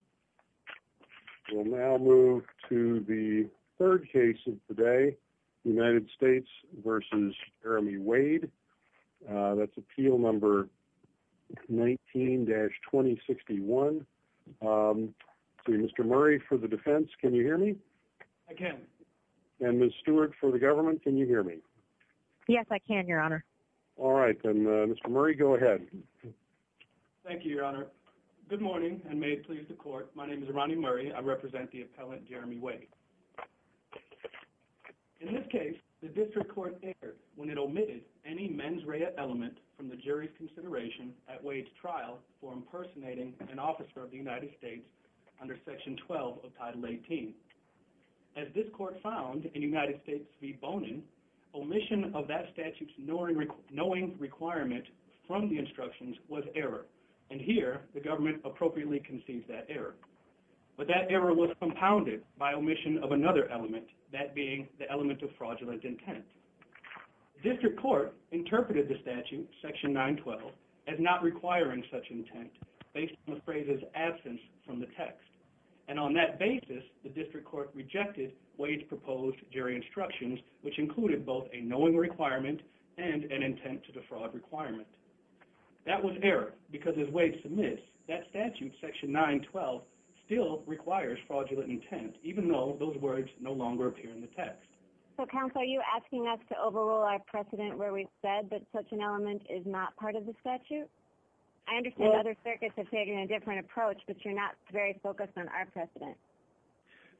19-2061. Mr. Murray for the defense, can you hear me? I can. And Ms. Stewart for the government, can you hear me? Yes, I can, Your Honor. All right, then Mr. Murray, go ahead. Thank you, Your Honor. Good morning, and may it please the court, my name is Ronnie Murray. I represent the appellant, Jeremy Wade. In this case, the district court erred when it omitted any mens rea element from the jury's consideration at Wade's trial for impersonating an officer of the United States under Section 12 of Title 18. As this court found in United States v. the government appropriately conceived that error. But that error was compounded by omission of another element, that being the element of fraudulent intent. District court interpreted the statute, Section 912, as not requiring such intent based on the phrase's absence from the text. And on that basis, the district court rejected Wade's proposed jury instructions, which included both a knowing requirement and an intent to defraud requirement. That was error, because as Wade submits, that statute, Section 912, still requires fraudulent intent, even though those words no longer appear in the text. So counsel, are you asking us to overrule our precedent where we've said that such an element is not part of the statute? I understand other circuits have taken a different approach, but you're not very focused on our precedent.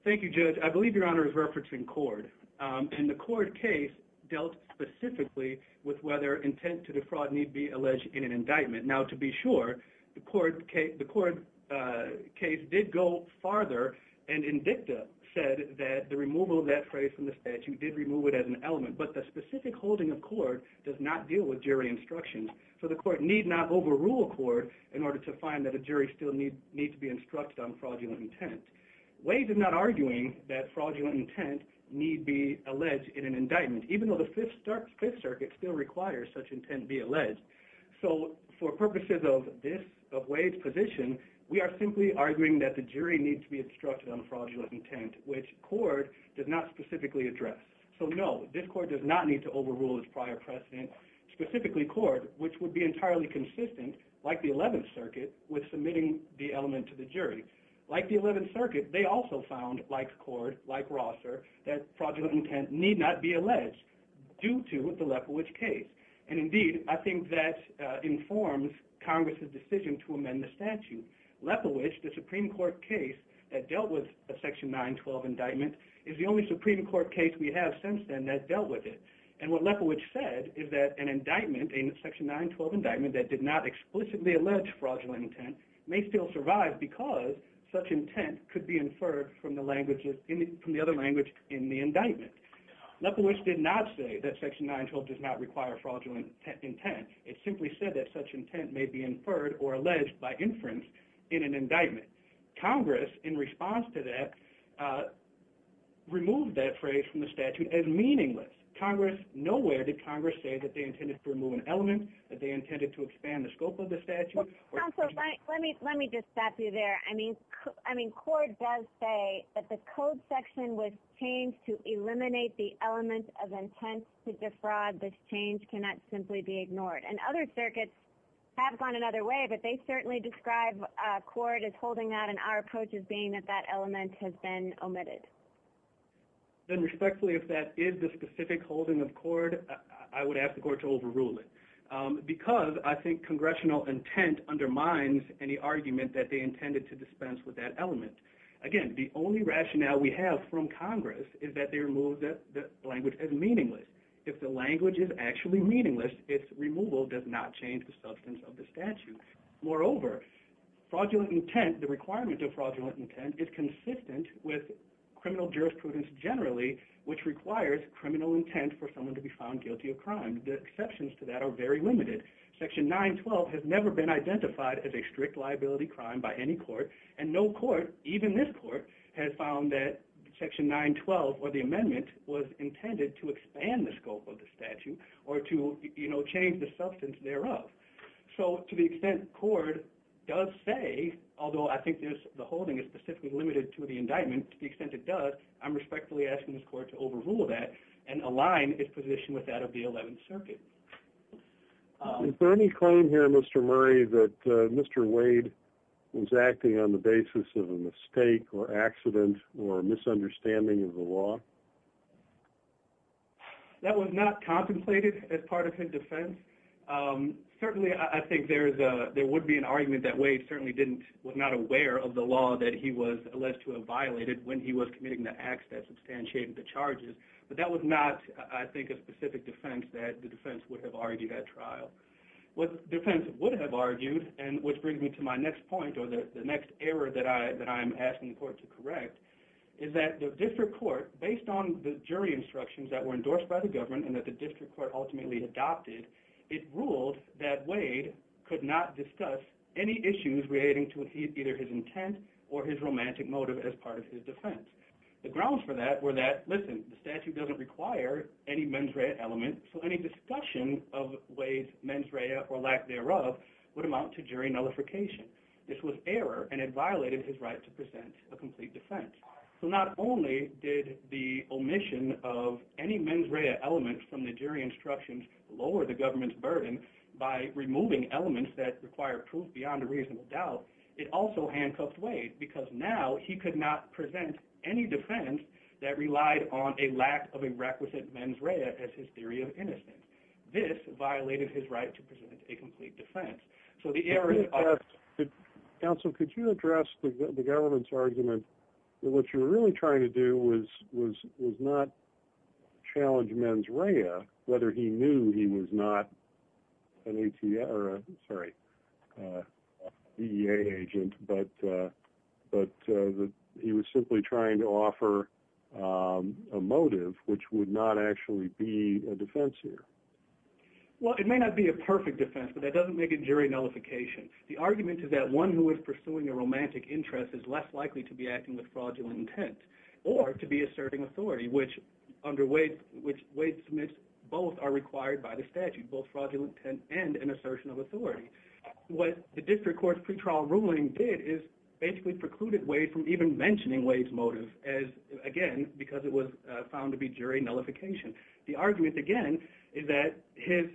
Thank you, Judge. I believe Your Honor is referencing CORD. And the CORD case dealt specifically with whether intent to defraud need be alleged in an indictment. Now to be sure, the CORD case did go farther, and INDICTA said that the removal of that phrase from the statute did remove it as an element. But the specific holding of CORD does not deal with jury instructions. So the court need not overrule CORD in order to find that a jury still need to be instructed on fraudulent intent. Wade is not arguing that even though the Fifth Circuit still requires such intent to be alleged. So for purposes of this, of Wade's position, we are simply arguing that the jury need to be instructed on fraudulent intent, which CORD does not specifically address. So no, this court does not need to overrule its prior precedent, specifically CORD, which would be entirely consistent, like the Eleventh Circuit, with submitting the element to the jury. Like the Eleventh Circuit, they also found, like CORD, like Rosser, that fraudulent intent need not be alleged due to the Lepowich case. And indeed, I think that informs Congress's decision to amend the statute. Lepowich, the Supreme Court case that dealt with a Section 912 indictment, is the only Supreme Court case we have since then that dealt with it. And what Lepowich said is that an indictment, a Section 912 indictment that did not explicitly allege fraudulent intent, may still survive because such intent could be inferred from the other language in the indictment. Lepowich did not say that Section 912 does not require fraudulent intent. It simply said that such intent may be inferred, or alleged by inference, in an indictment. Congress, in response to that, removed that phrase from the statute as meaningless. Congress, nowhere did Congress say that they intended to remove an element, that they intended to expand the scope of the statute, or... Counsel, let me just stop you there. I mean, CORD does say that the code section was changed to eliminate the element of intent to defraud. This change cannot simply be ignored. And other circuits have gone another way, but they certainly describe CORD as holding that, and our approach as being that that element has been omitted. Then respectfully, if that is the specific holding of CORD, I would ask the Court to remove the language that reminds any argument that they intended to dispense with that element. Again, the only rationale we have from Congress is that they removed the language as meaningless. If the language is actually meaningless, its removal does not change the substance of the statute. Moreover, fraudulent intent, the requirement of fraudulent intent, is consistent with criminal jurisprudence generally, which requires criminal intent for someone to be found guilty of crime. The exceptions to that are very limited. Section 912 has never been identified as a strict liability crime by any court, and no court, even this court, has found that Section 912, or the amendment, was intended to expand the scope of the statute, or to, you know, change the substance thereof. So, to the extent CORD does say, although I think the holding is specifically limited to the indictment, to the extent it does, I'm respectfully asking this Court to overrule that and align its position with that of the Eleventh Circuit. Is there any claim here, Mr. Murray, that Mr. Wade was acting on the basis of a mistake, or accident, or misunderstanding of the law? That was not contemplated as part of his defense. Certainly, I think there is a, there would be an argument that Wade certainly didn't, was not aware of the law that he was alleged to have violated when he was committing the acts that substantiated the charges, but that was not, I think, a specific defense that the defense would have argued at trial. What the defense would have argued, and which brings me to my next point, or the next error that I am asking the Court to correct, is that the District Court, based on the jury instructions that were endorsed by the government, and that the District Court ultimately adopted, it ruled that Wade could not discuss any issues relating to either his intent or his romantic motive as part of his defense. The grounds for that were that, listen, the statute doesn't require any mens rea element, so any discussion of Wade's mens rea or lack thereof would amount to jury nullification. This was error, and it violated his right to present a complete defense. So not only did the omission of any mens rea element from the jury instructions lower the government's burden by removing elements that require proof beyond a reasonable doubt, it also handcuffed Wade, because now he could not present any defense that relied on a lack of a requisite mens rea as his theory of innocence. This violated his right to present a complete defense. So the error... Counsel, could you address the government's argument that what you're really trying to do was not challenge mens rea, whether he knew he was not an ATA, sorry, DEA agent, but he was simply trying to offer a motive which would not actually be a defense here? Well, it may not be a perfect defense, but that doesn't make it jury nullification. The argument is that one who is pursuing a romantic interest is less likely to be acting with fraudulent intent, or to be asserting authority, which Wade submits both are required by the statute, both fraudulent intent and an assertion of authority. What the district court's pre-trial ruling did is basically precluded Wade from even mentioning Wade's motive as, again, because it was found to be jury nullification. The argument, again, is that his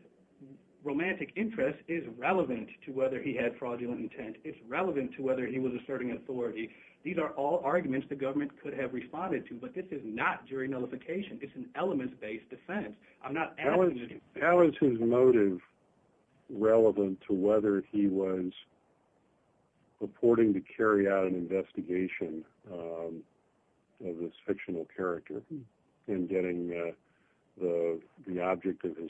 romantic interest is relevant to whether he had fraudulent intent. It's relevant to whether he was asserting authority. These are all arguments the government could have responded to, but this is not jury nullification. It's an elements-based defense. I'm not asking... How is his motive relevant to whether he was purporting to carry out an investigation of this fictional character in getting the object of his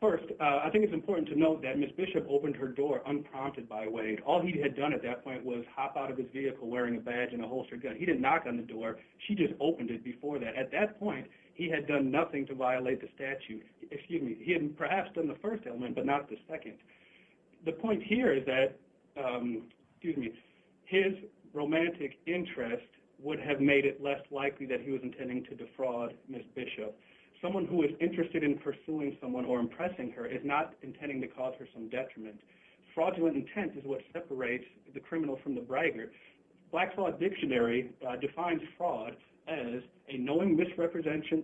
First, I think it's important to note that Ms. Bishop opened her door unprompted by Wade. All he had done at that point was hop out of his vehicle wearing a badge and a holstered gun. He didn't knock on the door. She just opened it before that. At that point, he had done nothing to violate the statute. Excuse me. He had perhaps done the first element, but not the second. The point here is that his romantic interest would have made it less likely that he was intending to defraud Ms. Bishop. Someone who is interested in pursuing someone or impressing her is not intending to cause her some detriment. Fraudulent intent is what separates the criminal from the bragger. Black fraud dictionary defines fraud as a knowing misrepresentation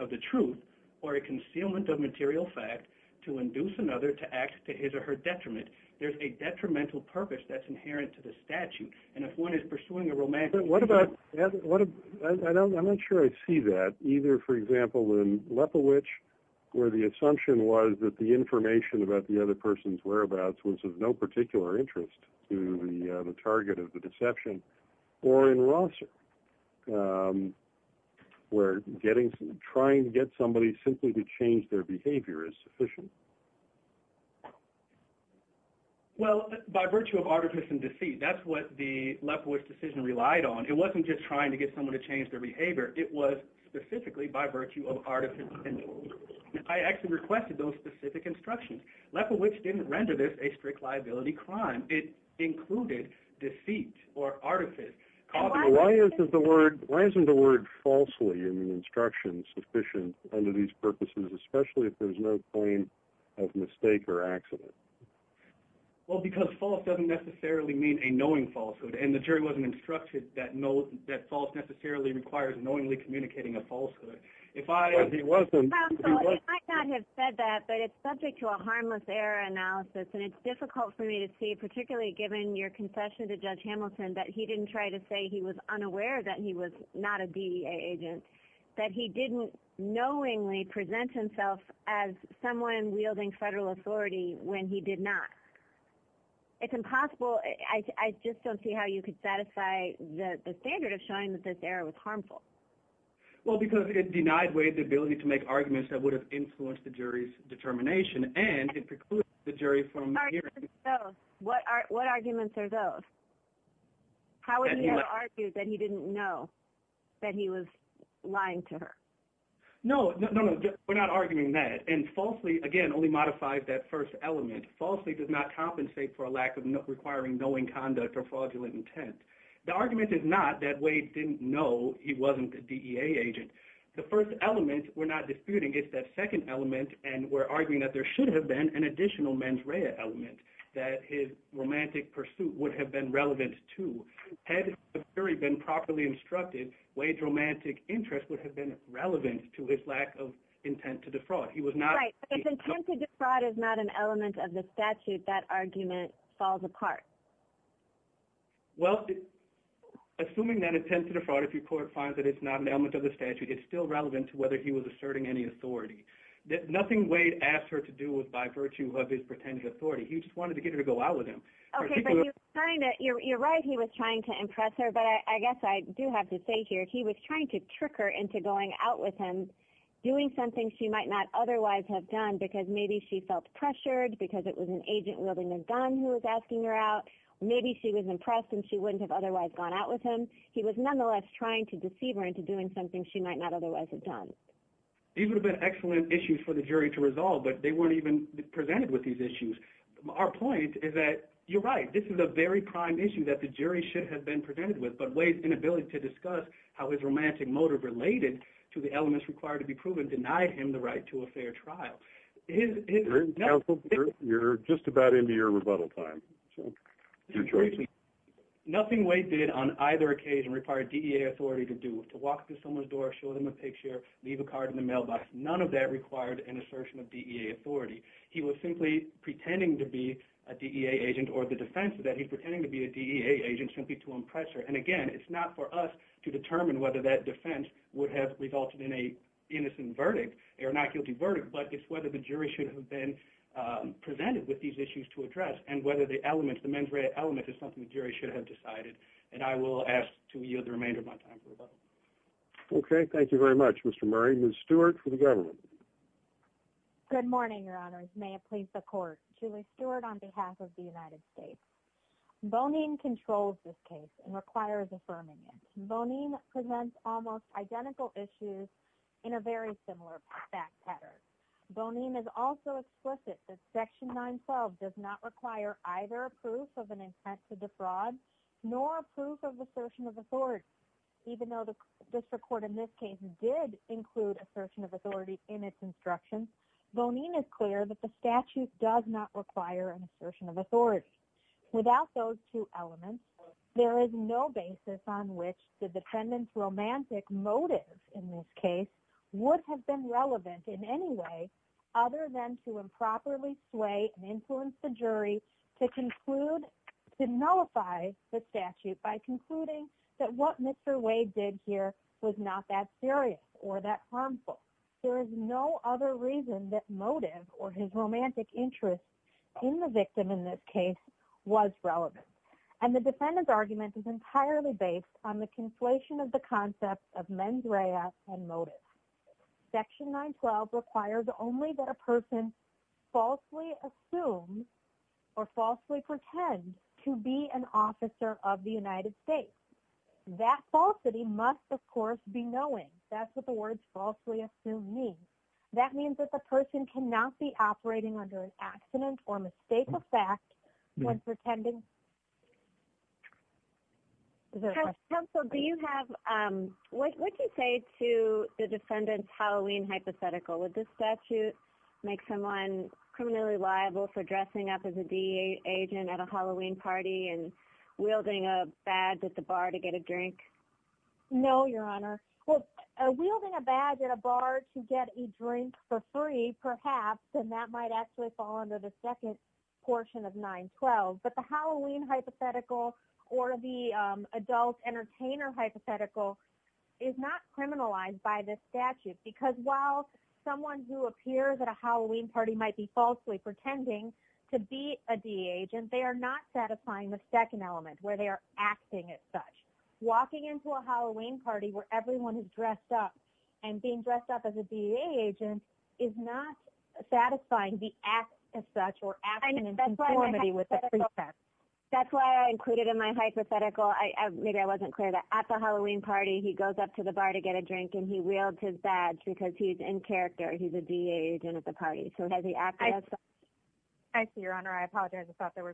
of the truth or a concealment of material fact to induce another to act to his or her detriment. There's a detrimental purpose that's inherent to the statute, and if one is pursuing a romantic... What about... I'm not sure I see that. Either, for example, in Lepowich, where the assumption was that the information about the other person's whereabouts was of no particular interest to the target of the deception, or in Rosser, where trying to get somebody simply to change their behavior is sufficient. Well, by virtue of artifice and deceit, that's what the Lepowich decision relied on. It wasn't just trying to get someone to change their behavior. It was specifically by virtue of artifice. I actually requested those specific instructions. Lepowich didn't render this a strict liability crime. It included deceit or artifice. Why isn't the word falsely in the instructions sufficient under these purposes, especially if there's no point of mistake or accident? Well, because false doesn't necessarily mean a knowing falsehood, and the jury wasn't instructed that false necessarily requires knowingly communicating a falsehood. It might not have said that, but it's subject to a harmless error analysis, and it's difficult for me to see, particularly given your confession to Judge Hamilton, that he didn't try to say he was unaware that he was not a DEA agent, that he didn't knowingly present himself as someone wielding federal authority when he did not. It's impossible. I just don't see how you could satisfy the standard of showing that this error was harmful. Well, because it denied Wade the ability to make arguments that would have influenced the jury's determination, and it precludes the jury from hearing... What arguments are those? How would he have argued that he didn't know that he was lying to her? No, we're not arguing that, and falsely, again, only modifies that first element. Falsely does not compensate for a lack of requiring knowing conduct or fraudulent intent. The argument is not that Wade didn't know he wasn't a DEA agent. The first element we're not disputing is that second element, and we're arguing that there should have been an additional mens rea element that his romantic pursuit would have been relevant to. Had the jury been properly instructed, Wade's romantic interest would have been relevant to his lack of intent to defraud. His intent to defraud is not an element of the statute. That argument falls apart. Well, assuming that intent to defraud, if your court finds that it's not an element of the statute, it's still relevant to whether he was asserting any authority. Nothing Wade asked her to do was by virtue of his pretended authority. He just wanted to get her to go out with him. Okay, but you're right. He was trying to impress her, but I guess I do have to say here, he was trying to trick her into going out with him, doing something she might not otherwise have done, because maybe she felt pressured, because it was an agent wielding a gun who was asking her out. Maybe she was impressed and she wouldn't have otherwise gone out with him. He was nonetheless trying to deceive her into doing something she might not otherwise have done. These would have been excellent issues for the jury to resolve, but they weren't even presented with these issues. Our point is that you're right. This is a very prime issue that the jury should have been presented with, but Wade's inability to discuss how his romantic motive related to the elements required to be proven denied him the right to a fair trial. You're just about into your rebuttal time. Nothing Wade did on either occasion required DEA authority to do. To walk through someone's door, show them a picture, leave a card in the mailbox, none of that required an assertion of DEA authority. He was simply pretending to be a DEA agent or the defense of that. He's pretending to be a DEA agent simply to impress her. Again, it's not for us to determine whether that defense would have resulted in an innocent verdict or not guilty verdict, but it's whether the jury should have been presented with these issues to address and whether the elements, the mens rea element, is something the jury should have decided. I will ask to yield the remainder of my time for rebuttal. Okay. Thank you very much, Mr. Murray. Ms. Stewart for the government. Good morning, Your Honors. May it please the court. Julie Stewart on behalf of the United States. Bonin controls this case and requires affirming it. Bonin presents almost identical issues in a very similar fact pattern. Bonin is also explicit that Section 912 does not require either proof of an intent to defraud nor proof of assertion of authority, even though the instructions, Bonin is clear that the statute does not require an assertion of authority. Without those two elements, there is no basis on which the defendant's romantic motive in this case would have been relevant in any way other than to improperly sway and influence the jury to conclude to nullify the statute by concluding that what Mr. Wade did here was not that serious or that other reason that motive or his romantic interest in the victim in this case was relevant. And the defendant's argument is entirely based on the conflation of the concept of mens rea and motive. Section 912 requires only that a person falsely assumes or falsely pretend to be an officer of the United States. That falsity must, of course, be knowing. That's what the words falsely assume means. That means that the person cannot be operating under an accident or mistake of fact when pretending. Counsel, do you have, what would you say to the defendant's Halloween hypothetical? Would this statute make someone criminally liable for dressing up as a DEA agent at a Halloween party and wielding a badge at the bar to get a drink? No, Your Honor. Well, wielding a badge at a bar to get a drink for free, perhaps, and that might actually fall under the second portion of 912. But the Halloween hypothetical or the adult entertainer hypothetical is not criminalized by this statute because while someone who appears at a Halloween party might be falsely pretending to be a DEA agent, they are not satisfying the second element where they are acting as such. Walking into a Halloween party where everyone is dressed up and being dressed up as a DEA agent is not satisfying the act as such or acting in conformity with the precepts. That's why I included in my hypothetical, maybe I wasn't clear, that at the Halloween party he goes up to the bar to get a drink and he wields his badge because he's in character. He's a DEA agent at the party. So has he acted as such? I see, Your Honor. I apologize. I thought there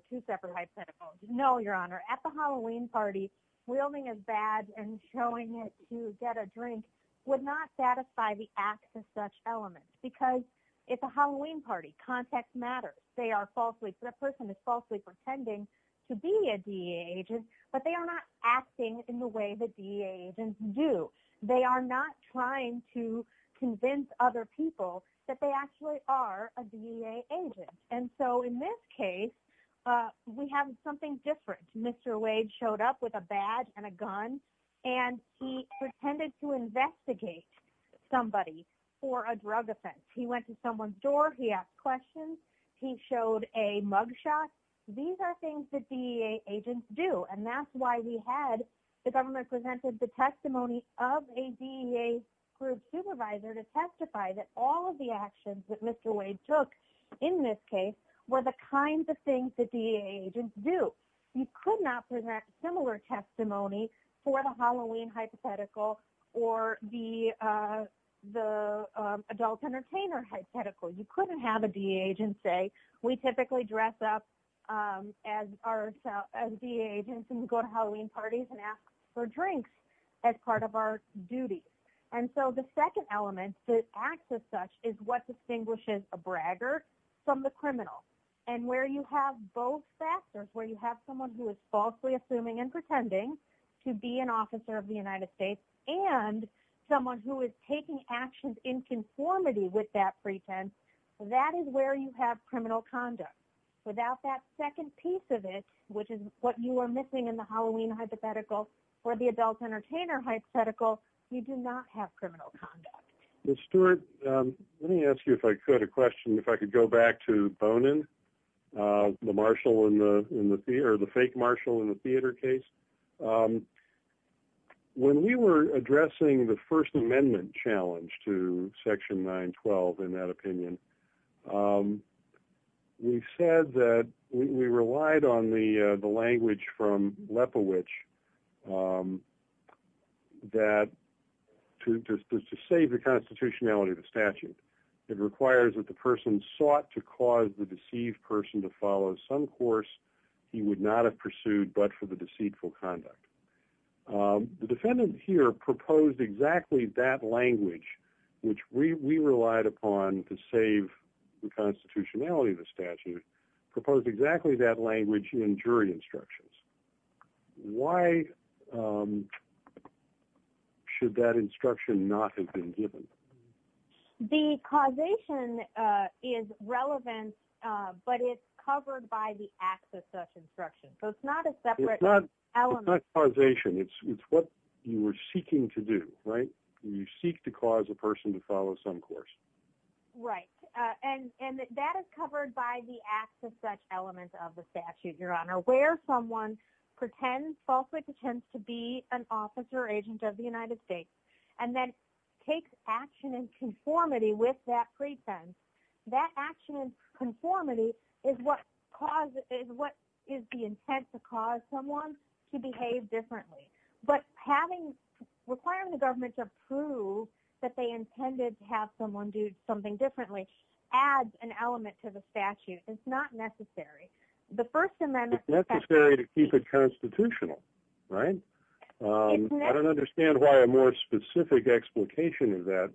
and showing it to get a drink would not satisfy the act as such element because it's a Halloween party. Context matters. They are falsely, that person is falsely pretending to be a DEA agent, but they are not acting in the way that DEA agents do. They are not trying to convince other people that they actually are a DEA agent. And so in this case, we have something different. Mr. Wade showed up with a badge and a gun and he pretended to investigate somebody for a drug offense. He went to someone's door. He asked questions. He showed a mugshot. These are things that DEA agents do. And that's why we had, the government presented the testimony of a DEA group supervisor to testify that all of the things that DEA agents do. You could not present similar testimony for the Halloween hypothetical or the adult entertainer hypothetical. You couldn't have a DEA agent say, we typically dress up as DEA agents and go to Halloween parties and ask for drinks as part of our duty. And so the second element that acts as such is what distinguishes a bragger from the criminal. And where you have both factors, where you have someone who is falsely assuming and pretending to be an officer of the United States and someone who is taking actions in conformity with that pretense, that is where you have criminal conduct. Without that second piece of it, which is what you are missing in the Halloween hypothetical or the adult entertainer hypothetical, you do not have the fake marshal in the theater case. When we were addressing the First Amendment challenge to Section 912, in that opinion, we said that we relied on the language from Lepowich that to save the constitutionality of the statute, it requires that the person sought to cause the person to follow some course he would not have pursued but for the deceitful conduct. The defendant here proposed exactly that language, which we relied upon to save the constitutionality of the statute, proposed exactly that language in jury instructions. Why should that instruction not have been given? The causation is relevant, but it's covered by the acts of such instruction. So it's not a separate element. It's not causation. It's what you are seeking to do, right? You seek to cause a person to follow some course. Right. And that is covered by the acts of such elements of the statute, Your Honor, where someone pretends, falsely pretends to be an officer or agent of the United States, and then takes action in conformity with that pretense. That action in conformity is what is the intent to cause someone to behave differently. But requiring the government to approve that they intended to have someone do something differently adds an element to the statute. It's not necessary. It's necessary to keep it constitutional, right? I don't understand why a more specific explication of that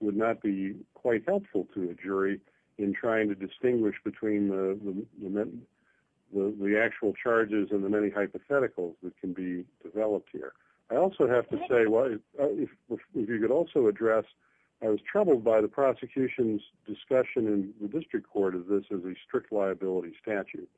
would not be quite helpful to the jury in trying to distinguish between the actual charges and the many hypotheticals that can be developed here. I also have to say, if you could also address, I was troubled by the prosecution's discussion in the district court of this as a strict liability statute.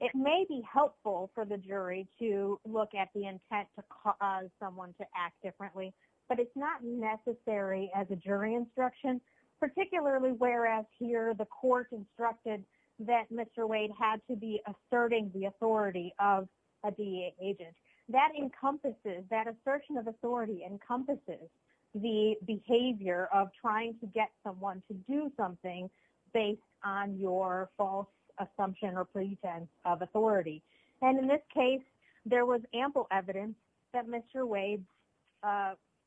It may be helpful for the jury to look at the intent to cause someone to act differently, but it's not necessary as a jury instruction, particularly whereas here the court instructed that Mr. Wade had to be asserting the authority of a DA agent. That encompasses, that assertion of authority encompasses the behavior of trying to get someone to do something based on your false assumption or pretense of authority. And in this case, there was ample evidence that Mr. Wade's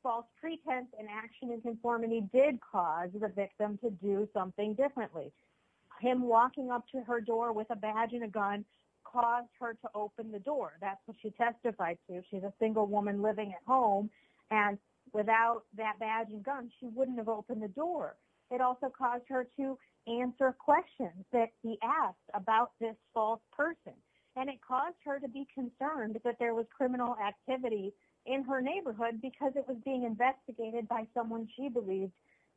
false pretense and action in conformity did cause the victim to do something differently. Him walking up to her door with a badge and a gun caused her to open the door. That's what she testified to. She's a single woman living at home and without that badge and gun, she wouldn't have opened the door. It also caused her to answer questions that he asked about this false person. And it caused her to be concerned that there was criminal activity in her neighborhood because it was being investigated by someone she believed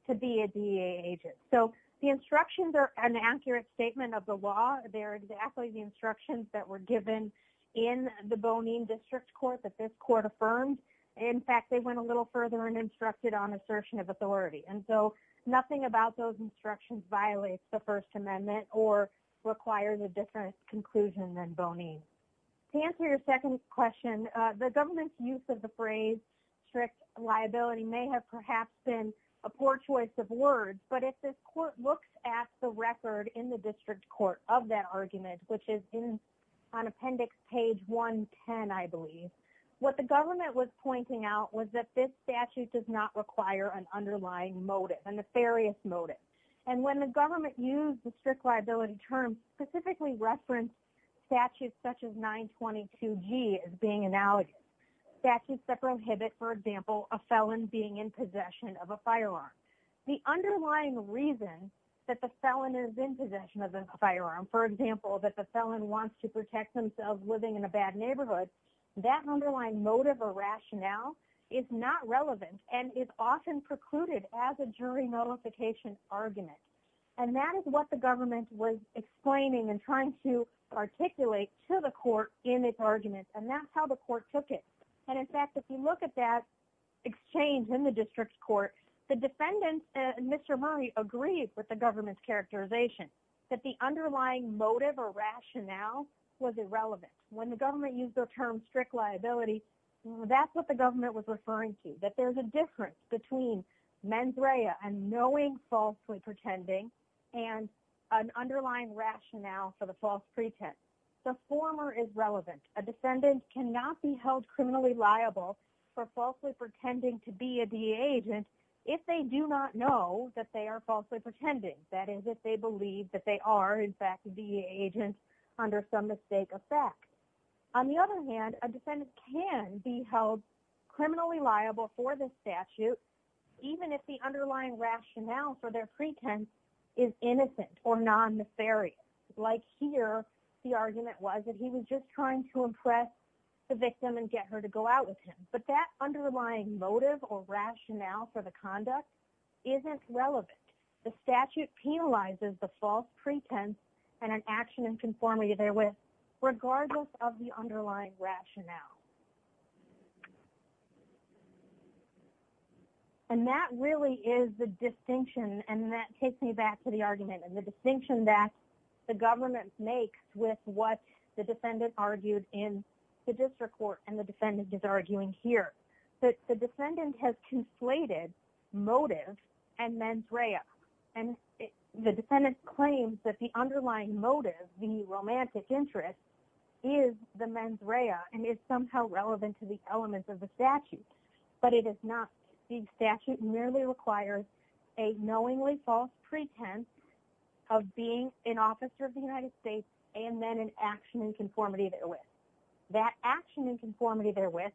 to be a DA agent. So the instructions are an accurate statement of the law. They're exactly the instructions that were given in the Bonin District Court that this court affirmed. In fact, they went a little further and instructed on assertion of authority. Nothing about those instructions violates the First Amendment or requires a different conclusion than Bonin. To answer your second question, the government's use of the phrase strict liability may have perhaps been a poor choice of words. But if this court looks at the record in the District Court of that argument, which is on appendix page 110, I believe, what the government was pointing out was that this motive, a nefarious motive. And when the government used the strict liability term, specifically referenced statutes such as 922G as being analogous, statutes that prohibit, for example, a felon being in possession of a firearm. The underlying reason that the felon is in possession of a firearm, for example, that the felon wants to protect themselves living in a bad neighborhood, that underlying motive or rationale is not relevant and is often precluded as a jury notification argument. And that is what the government was explaining and trying to articulate to the court in this argument. And that's how the court took it. And in fact, if you look at that exchange in the District Court, the defendant, Mr. Murray, agreed with the government's characterization that the underlying motive or rationale was irrelevant. When the government used the term strict liability, that's what the government was referring to, that there's a difference between mens rea and knowing falsely pretending and an underlying rationale for the false pretense. The former is relevant. A defendant cannot be held criminally liable for falsely pretending to be a DEA agent if they do not know that they are falsely pretending. That is, if they believe that they are, in fact, a DEA agent under some mistake of fact. On the other hand, a defendant can be held criminally liable for this statute, even if the underlying rationale for their pretense is innocent or non-nefarious. Like here, the argument was that he was just trying to impress the victim and get her to go out with him. But that underlying motive or rationale for the conduct isn't relevant. The statute penalizes the false pretense and an action in conformity therewith, regardless of the underlying rationale. And that really is the distinction, and that takes me back to the argument and the distinction that the government makes with what the defendant argued in the district court and the defendant is arguing here. The defendant has conflated motive and mens rea. And the defendant claims that the underlying motive, the romantic interest, is the mens rea and is somehow relevant to the elements of the statute. But it is not. The statute merely requires a knowingly false pretense of being an officer of the United States and then an action in conformity therewith. That action in conformity therewith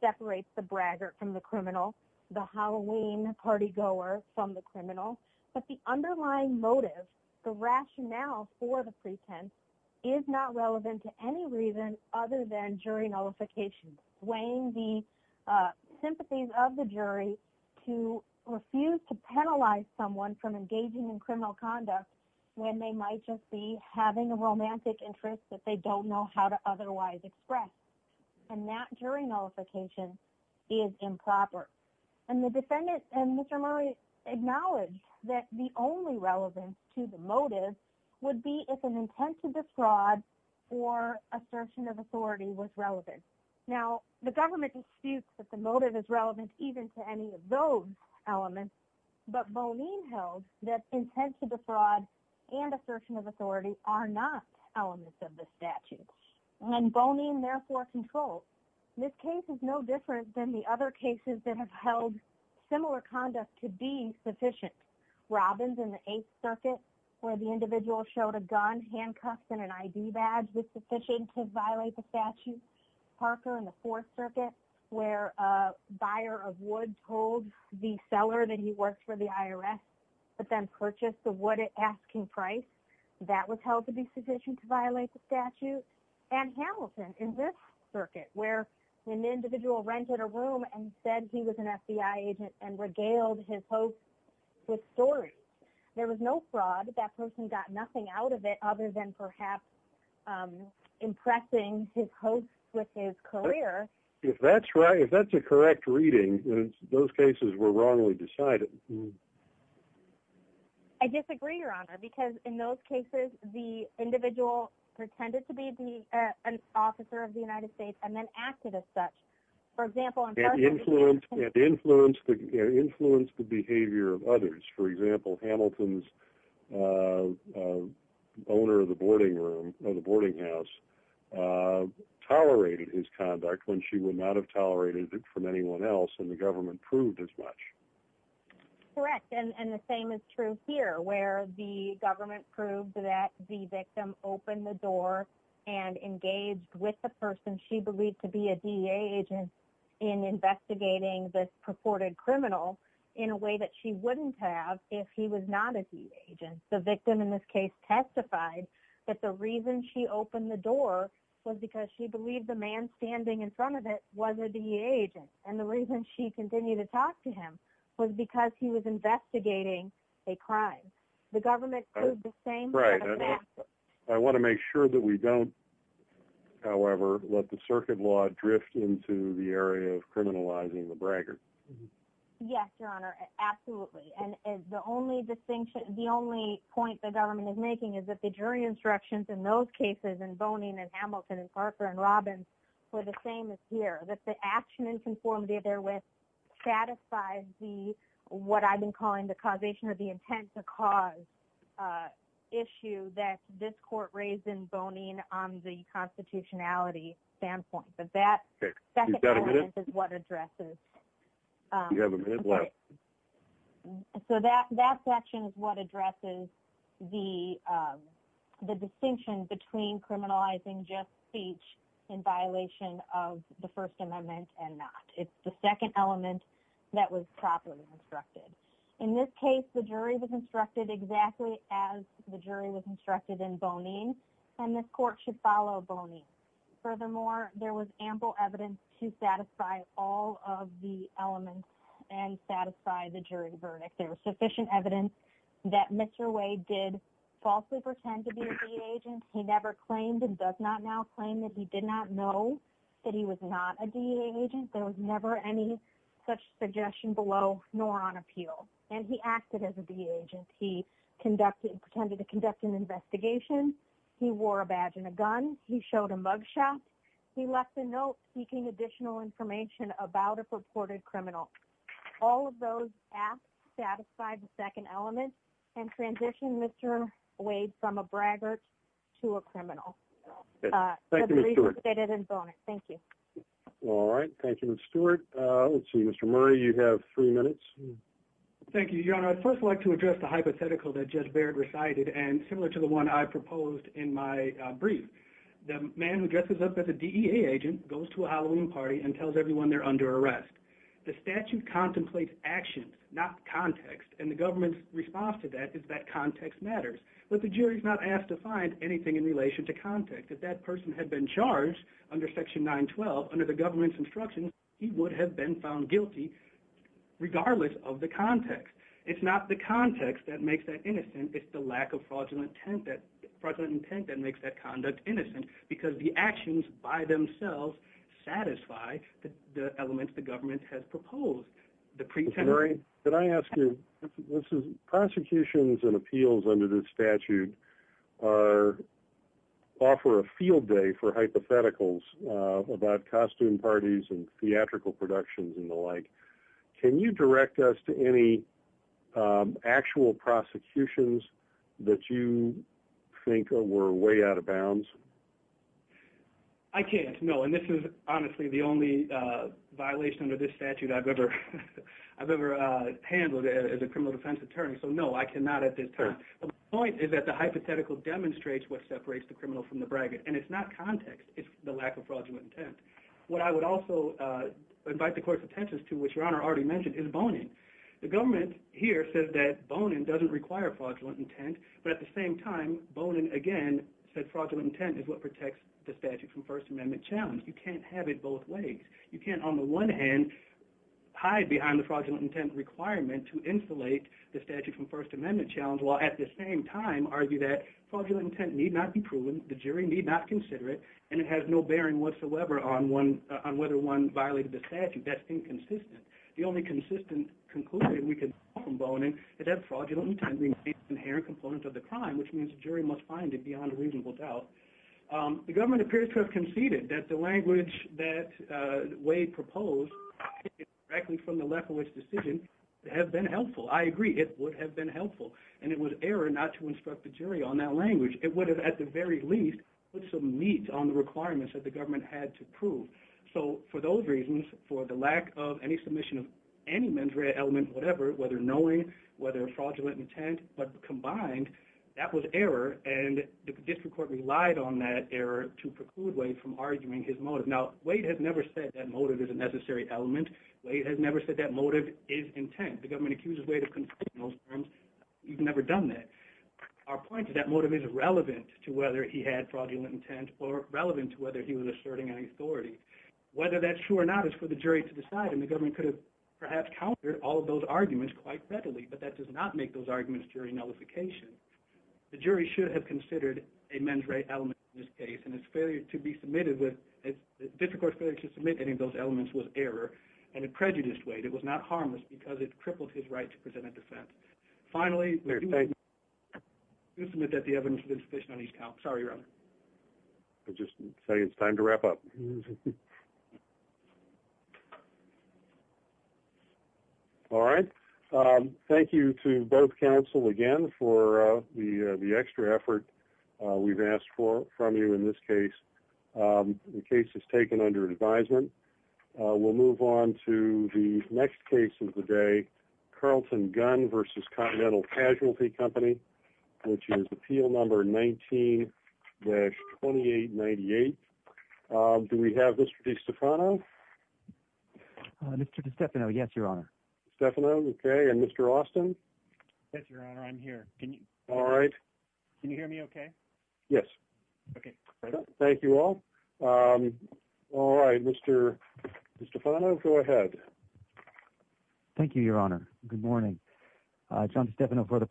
separates the bragger from the criminal, the Halloween partygoer from the criminal. But the underlying motive, the rationale for the pretense, is not relevant to any reason other than jury nullification, weighing the sympathies of the jury to refuse to penalize someone from engaging in criminal conduct when they might just be having a romantic interest that they don't know how to otherwise express. And that jury nullification is improper. And the defendant and Mr. Murray acknowledged that the only relevance to the motive would be if an intent to defraud or assertion of authority was relevant. Now, the government disputes that the motive is relevant even to any of those elements, but Bonin held that intent to defraud and assertion of authority are not elements of the statute. And Bonin therefore controlled. This case is no different than the other cases that have held similar conduct to be sufficient. Robbins in the Eighth Circuit where the individual showed a gun, handcuffs, and an ID badge was sufficient to violate the statute. Parker in the Fourth Circuit where a buyer of wood told the seller that he worked for the IRS but then purchased the wood at asking price, that was held to be sufficient to violate the statute. And Hamilton in this circuit where an individual rented a room and said he was an FBI agent and regaled his host with stories. There was no fraud. That person got nothing out of it other than perhaps impressing his host with his career. If that's right, if that's a correct reading, those cases were wrongly decided. I disagree, Your Honor, because in those cases, the individual pretended to be an officer of the United States and then acted as such. For example, it influenced the behavior of others. For example, Hamilton's owner of the boarding house tolerated his conduct when she would not have tolerated it from anyone else, and the government proved as much. Correct, and the same is true here where the government proved that the victim opened the door and engaged with the person she believed to be a DEA agent in investigating this purported in a way that she wouldn't have if he was not a DEA agent. The victim in this case testified that the reason she opened the door was because she believed the man standing in front of it was a DEA agent, and the reason she continued to talk to him was because he was investigating a crime. The government proved the same. I want to make sure that we don't, however, let the circuit law drift into the area of criminalizing the braggart. Yes, Your Honor, absolutely, and the only distinction, the only point the government is making is that the jury instructions in those cases in Bonin and Hamilton and Parker and Robbins were the same as here, that the action in conformity therewith satisfies the what I've been calling the causation or the intent to cause issue that this court raised in Bonin on the constitutionality standpoint, but that second element is what addresses the distinction between criminalizing just speech in violation of the First Amendment and not. It's the second element that was properly instructed. In this case, the jury was instructed exactly as the jury was instructed in Bonin, and this court should follow Bonin. Furthermore, there was ample evidence to satisfy all of the elements and satisfy the jury verdict. There was sufficient evidence that Mr. Wade did falsely pretend to be a DEA agent. He never claimed and does not now claim that he did not know that he was not a DEA agent. There was never any such suggestion below nor on appeal, and he acted as a DEA agent. He conducted, pretended to conduct an investigation. He wore a badge and a gun. He showed a mug shot. He left a note seeking additional information about a purported criminal. All of those acts satisfied the second element and transitioned Mr. Wade from a braggart to a criminal. Thank you, Ms. Stewart. Thank you. All right. Thank you, Ms. Stewart. Let's see. Mr. Murray, you have three minutes. Thank you, Your Honor. I'd first like to address the hypothetical that Judge Baird recited and similar to the one I proposed in my brief. The man who dresses up as a DEA agent goes to a Halloween party and tells everyone they're under arrest. The statute contemplates actions, not context, and the government's response to that is that context matters. But the jury's not asked to find anything in relation to context. If that person had been charged under Section 912, under the government's instructions, he would have been found guilty regardless of the context. It's not the context that makes that innocent. It's the lack of fraudulent intent that makes that conduct innocent, because the actions by themselves satisfy the elements the government has proposed. The pretending— Mr. Murray, could I ask you—prosecutions and appeals under this statute offer a field day for hypotheticals about costume parties and theatrical productions and the like. Can you direct us to any actual prosecutions that you think were way out of bounds? I can't, no. And this is honestly the only violation under this statute I've ever handled as a criminal defense attorney. So no, I cannot at this time. The point is that the hypothetical demonstrates what separates the criminal from the braggart, and it's not context. It's the lack of fraudulent intent. What I would also invite the Court's attention to, which Your Honor already mentioned, is Bonin. The government here says that Bonin doesn't require fraudulent intent, but at the same time, Bonin again said fraudulent intent is what protects the statute from First Amendment challenge. You can't have it both ways. You can't, on the one hand, hide behind the fraudulent intent requirement to insulate the statute from First Amendment challenge, while at the same time argue that fraudulent intent need not be proven, the jury need not consider it, and it has no bearing whatsoever on whether one violated the statute. That's inconsistent. The only consistent conclusion we can draw from Bonin is that fraudulent intent remains an inherent component of the crime, which means the jury must find it beyond reasonable doubt. The government appears to have conceded that the language that Wade proposed, directly from the left of which decision, have been helpful. I agree, it would have been helpful. And it was error not to instruct the jury on that language. It would have, at the very least, put some meat on the requirements that the government had to prove. So, for those reasons, for the lack of any submission of any mens rea element, whatever, whether knowing, whether fraudulent intent, but combined, that was error, and the district court relied on that error to preclude Wade from arguing his motive. Now, Wade has never said that motive is a necessary element. Wade has never said that motive is intent. The government accuses Wade of conceding those terms. He's never done that. Our point is that motive is relevant to whether he had fraudulent intent or relevant to whether he was asserting any authority. Whether that's true or not is for the jury to decide, and the government could have perhaps countered all of those arguments quite readily, but that does not make those arguments jury nullification. The jury should have considered a mens rea element in this case, and its failure to be submitted with, the district court's failure to submit any of those elements was error, and it prejudiced Wade. It was not harmless because it crippled his right to present a defense. Finally, we do submit that the evidence has been sufficient on each count. Sorry, Your Honor. I'll just say it's time to wrap up. All right. Thank you to both counsel again for the extra effort we've asked for from you in this case. The case is taken under advisement. We'll move on to the next case of the day, Carlton Gunn versus Continental Casualty Company, which is appeal number 19-2898. Do we have Mr. DeStefano? Mr. DeStefano, yes, Your Honor. DeStefano, okay. And Mr. Austin? Yes, Your Honor. I'm here. All right. Can you hear me okay? Yes. Okay. Thank you all. All right. Mr. DeStefano, go ahead. Thank you, Your Honor. Good morning. John DeStefano for the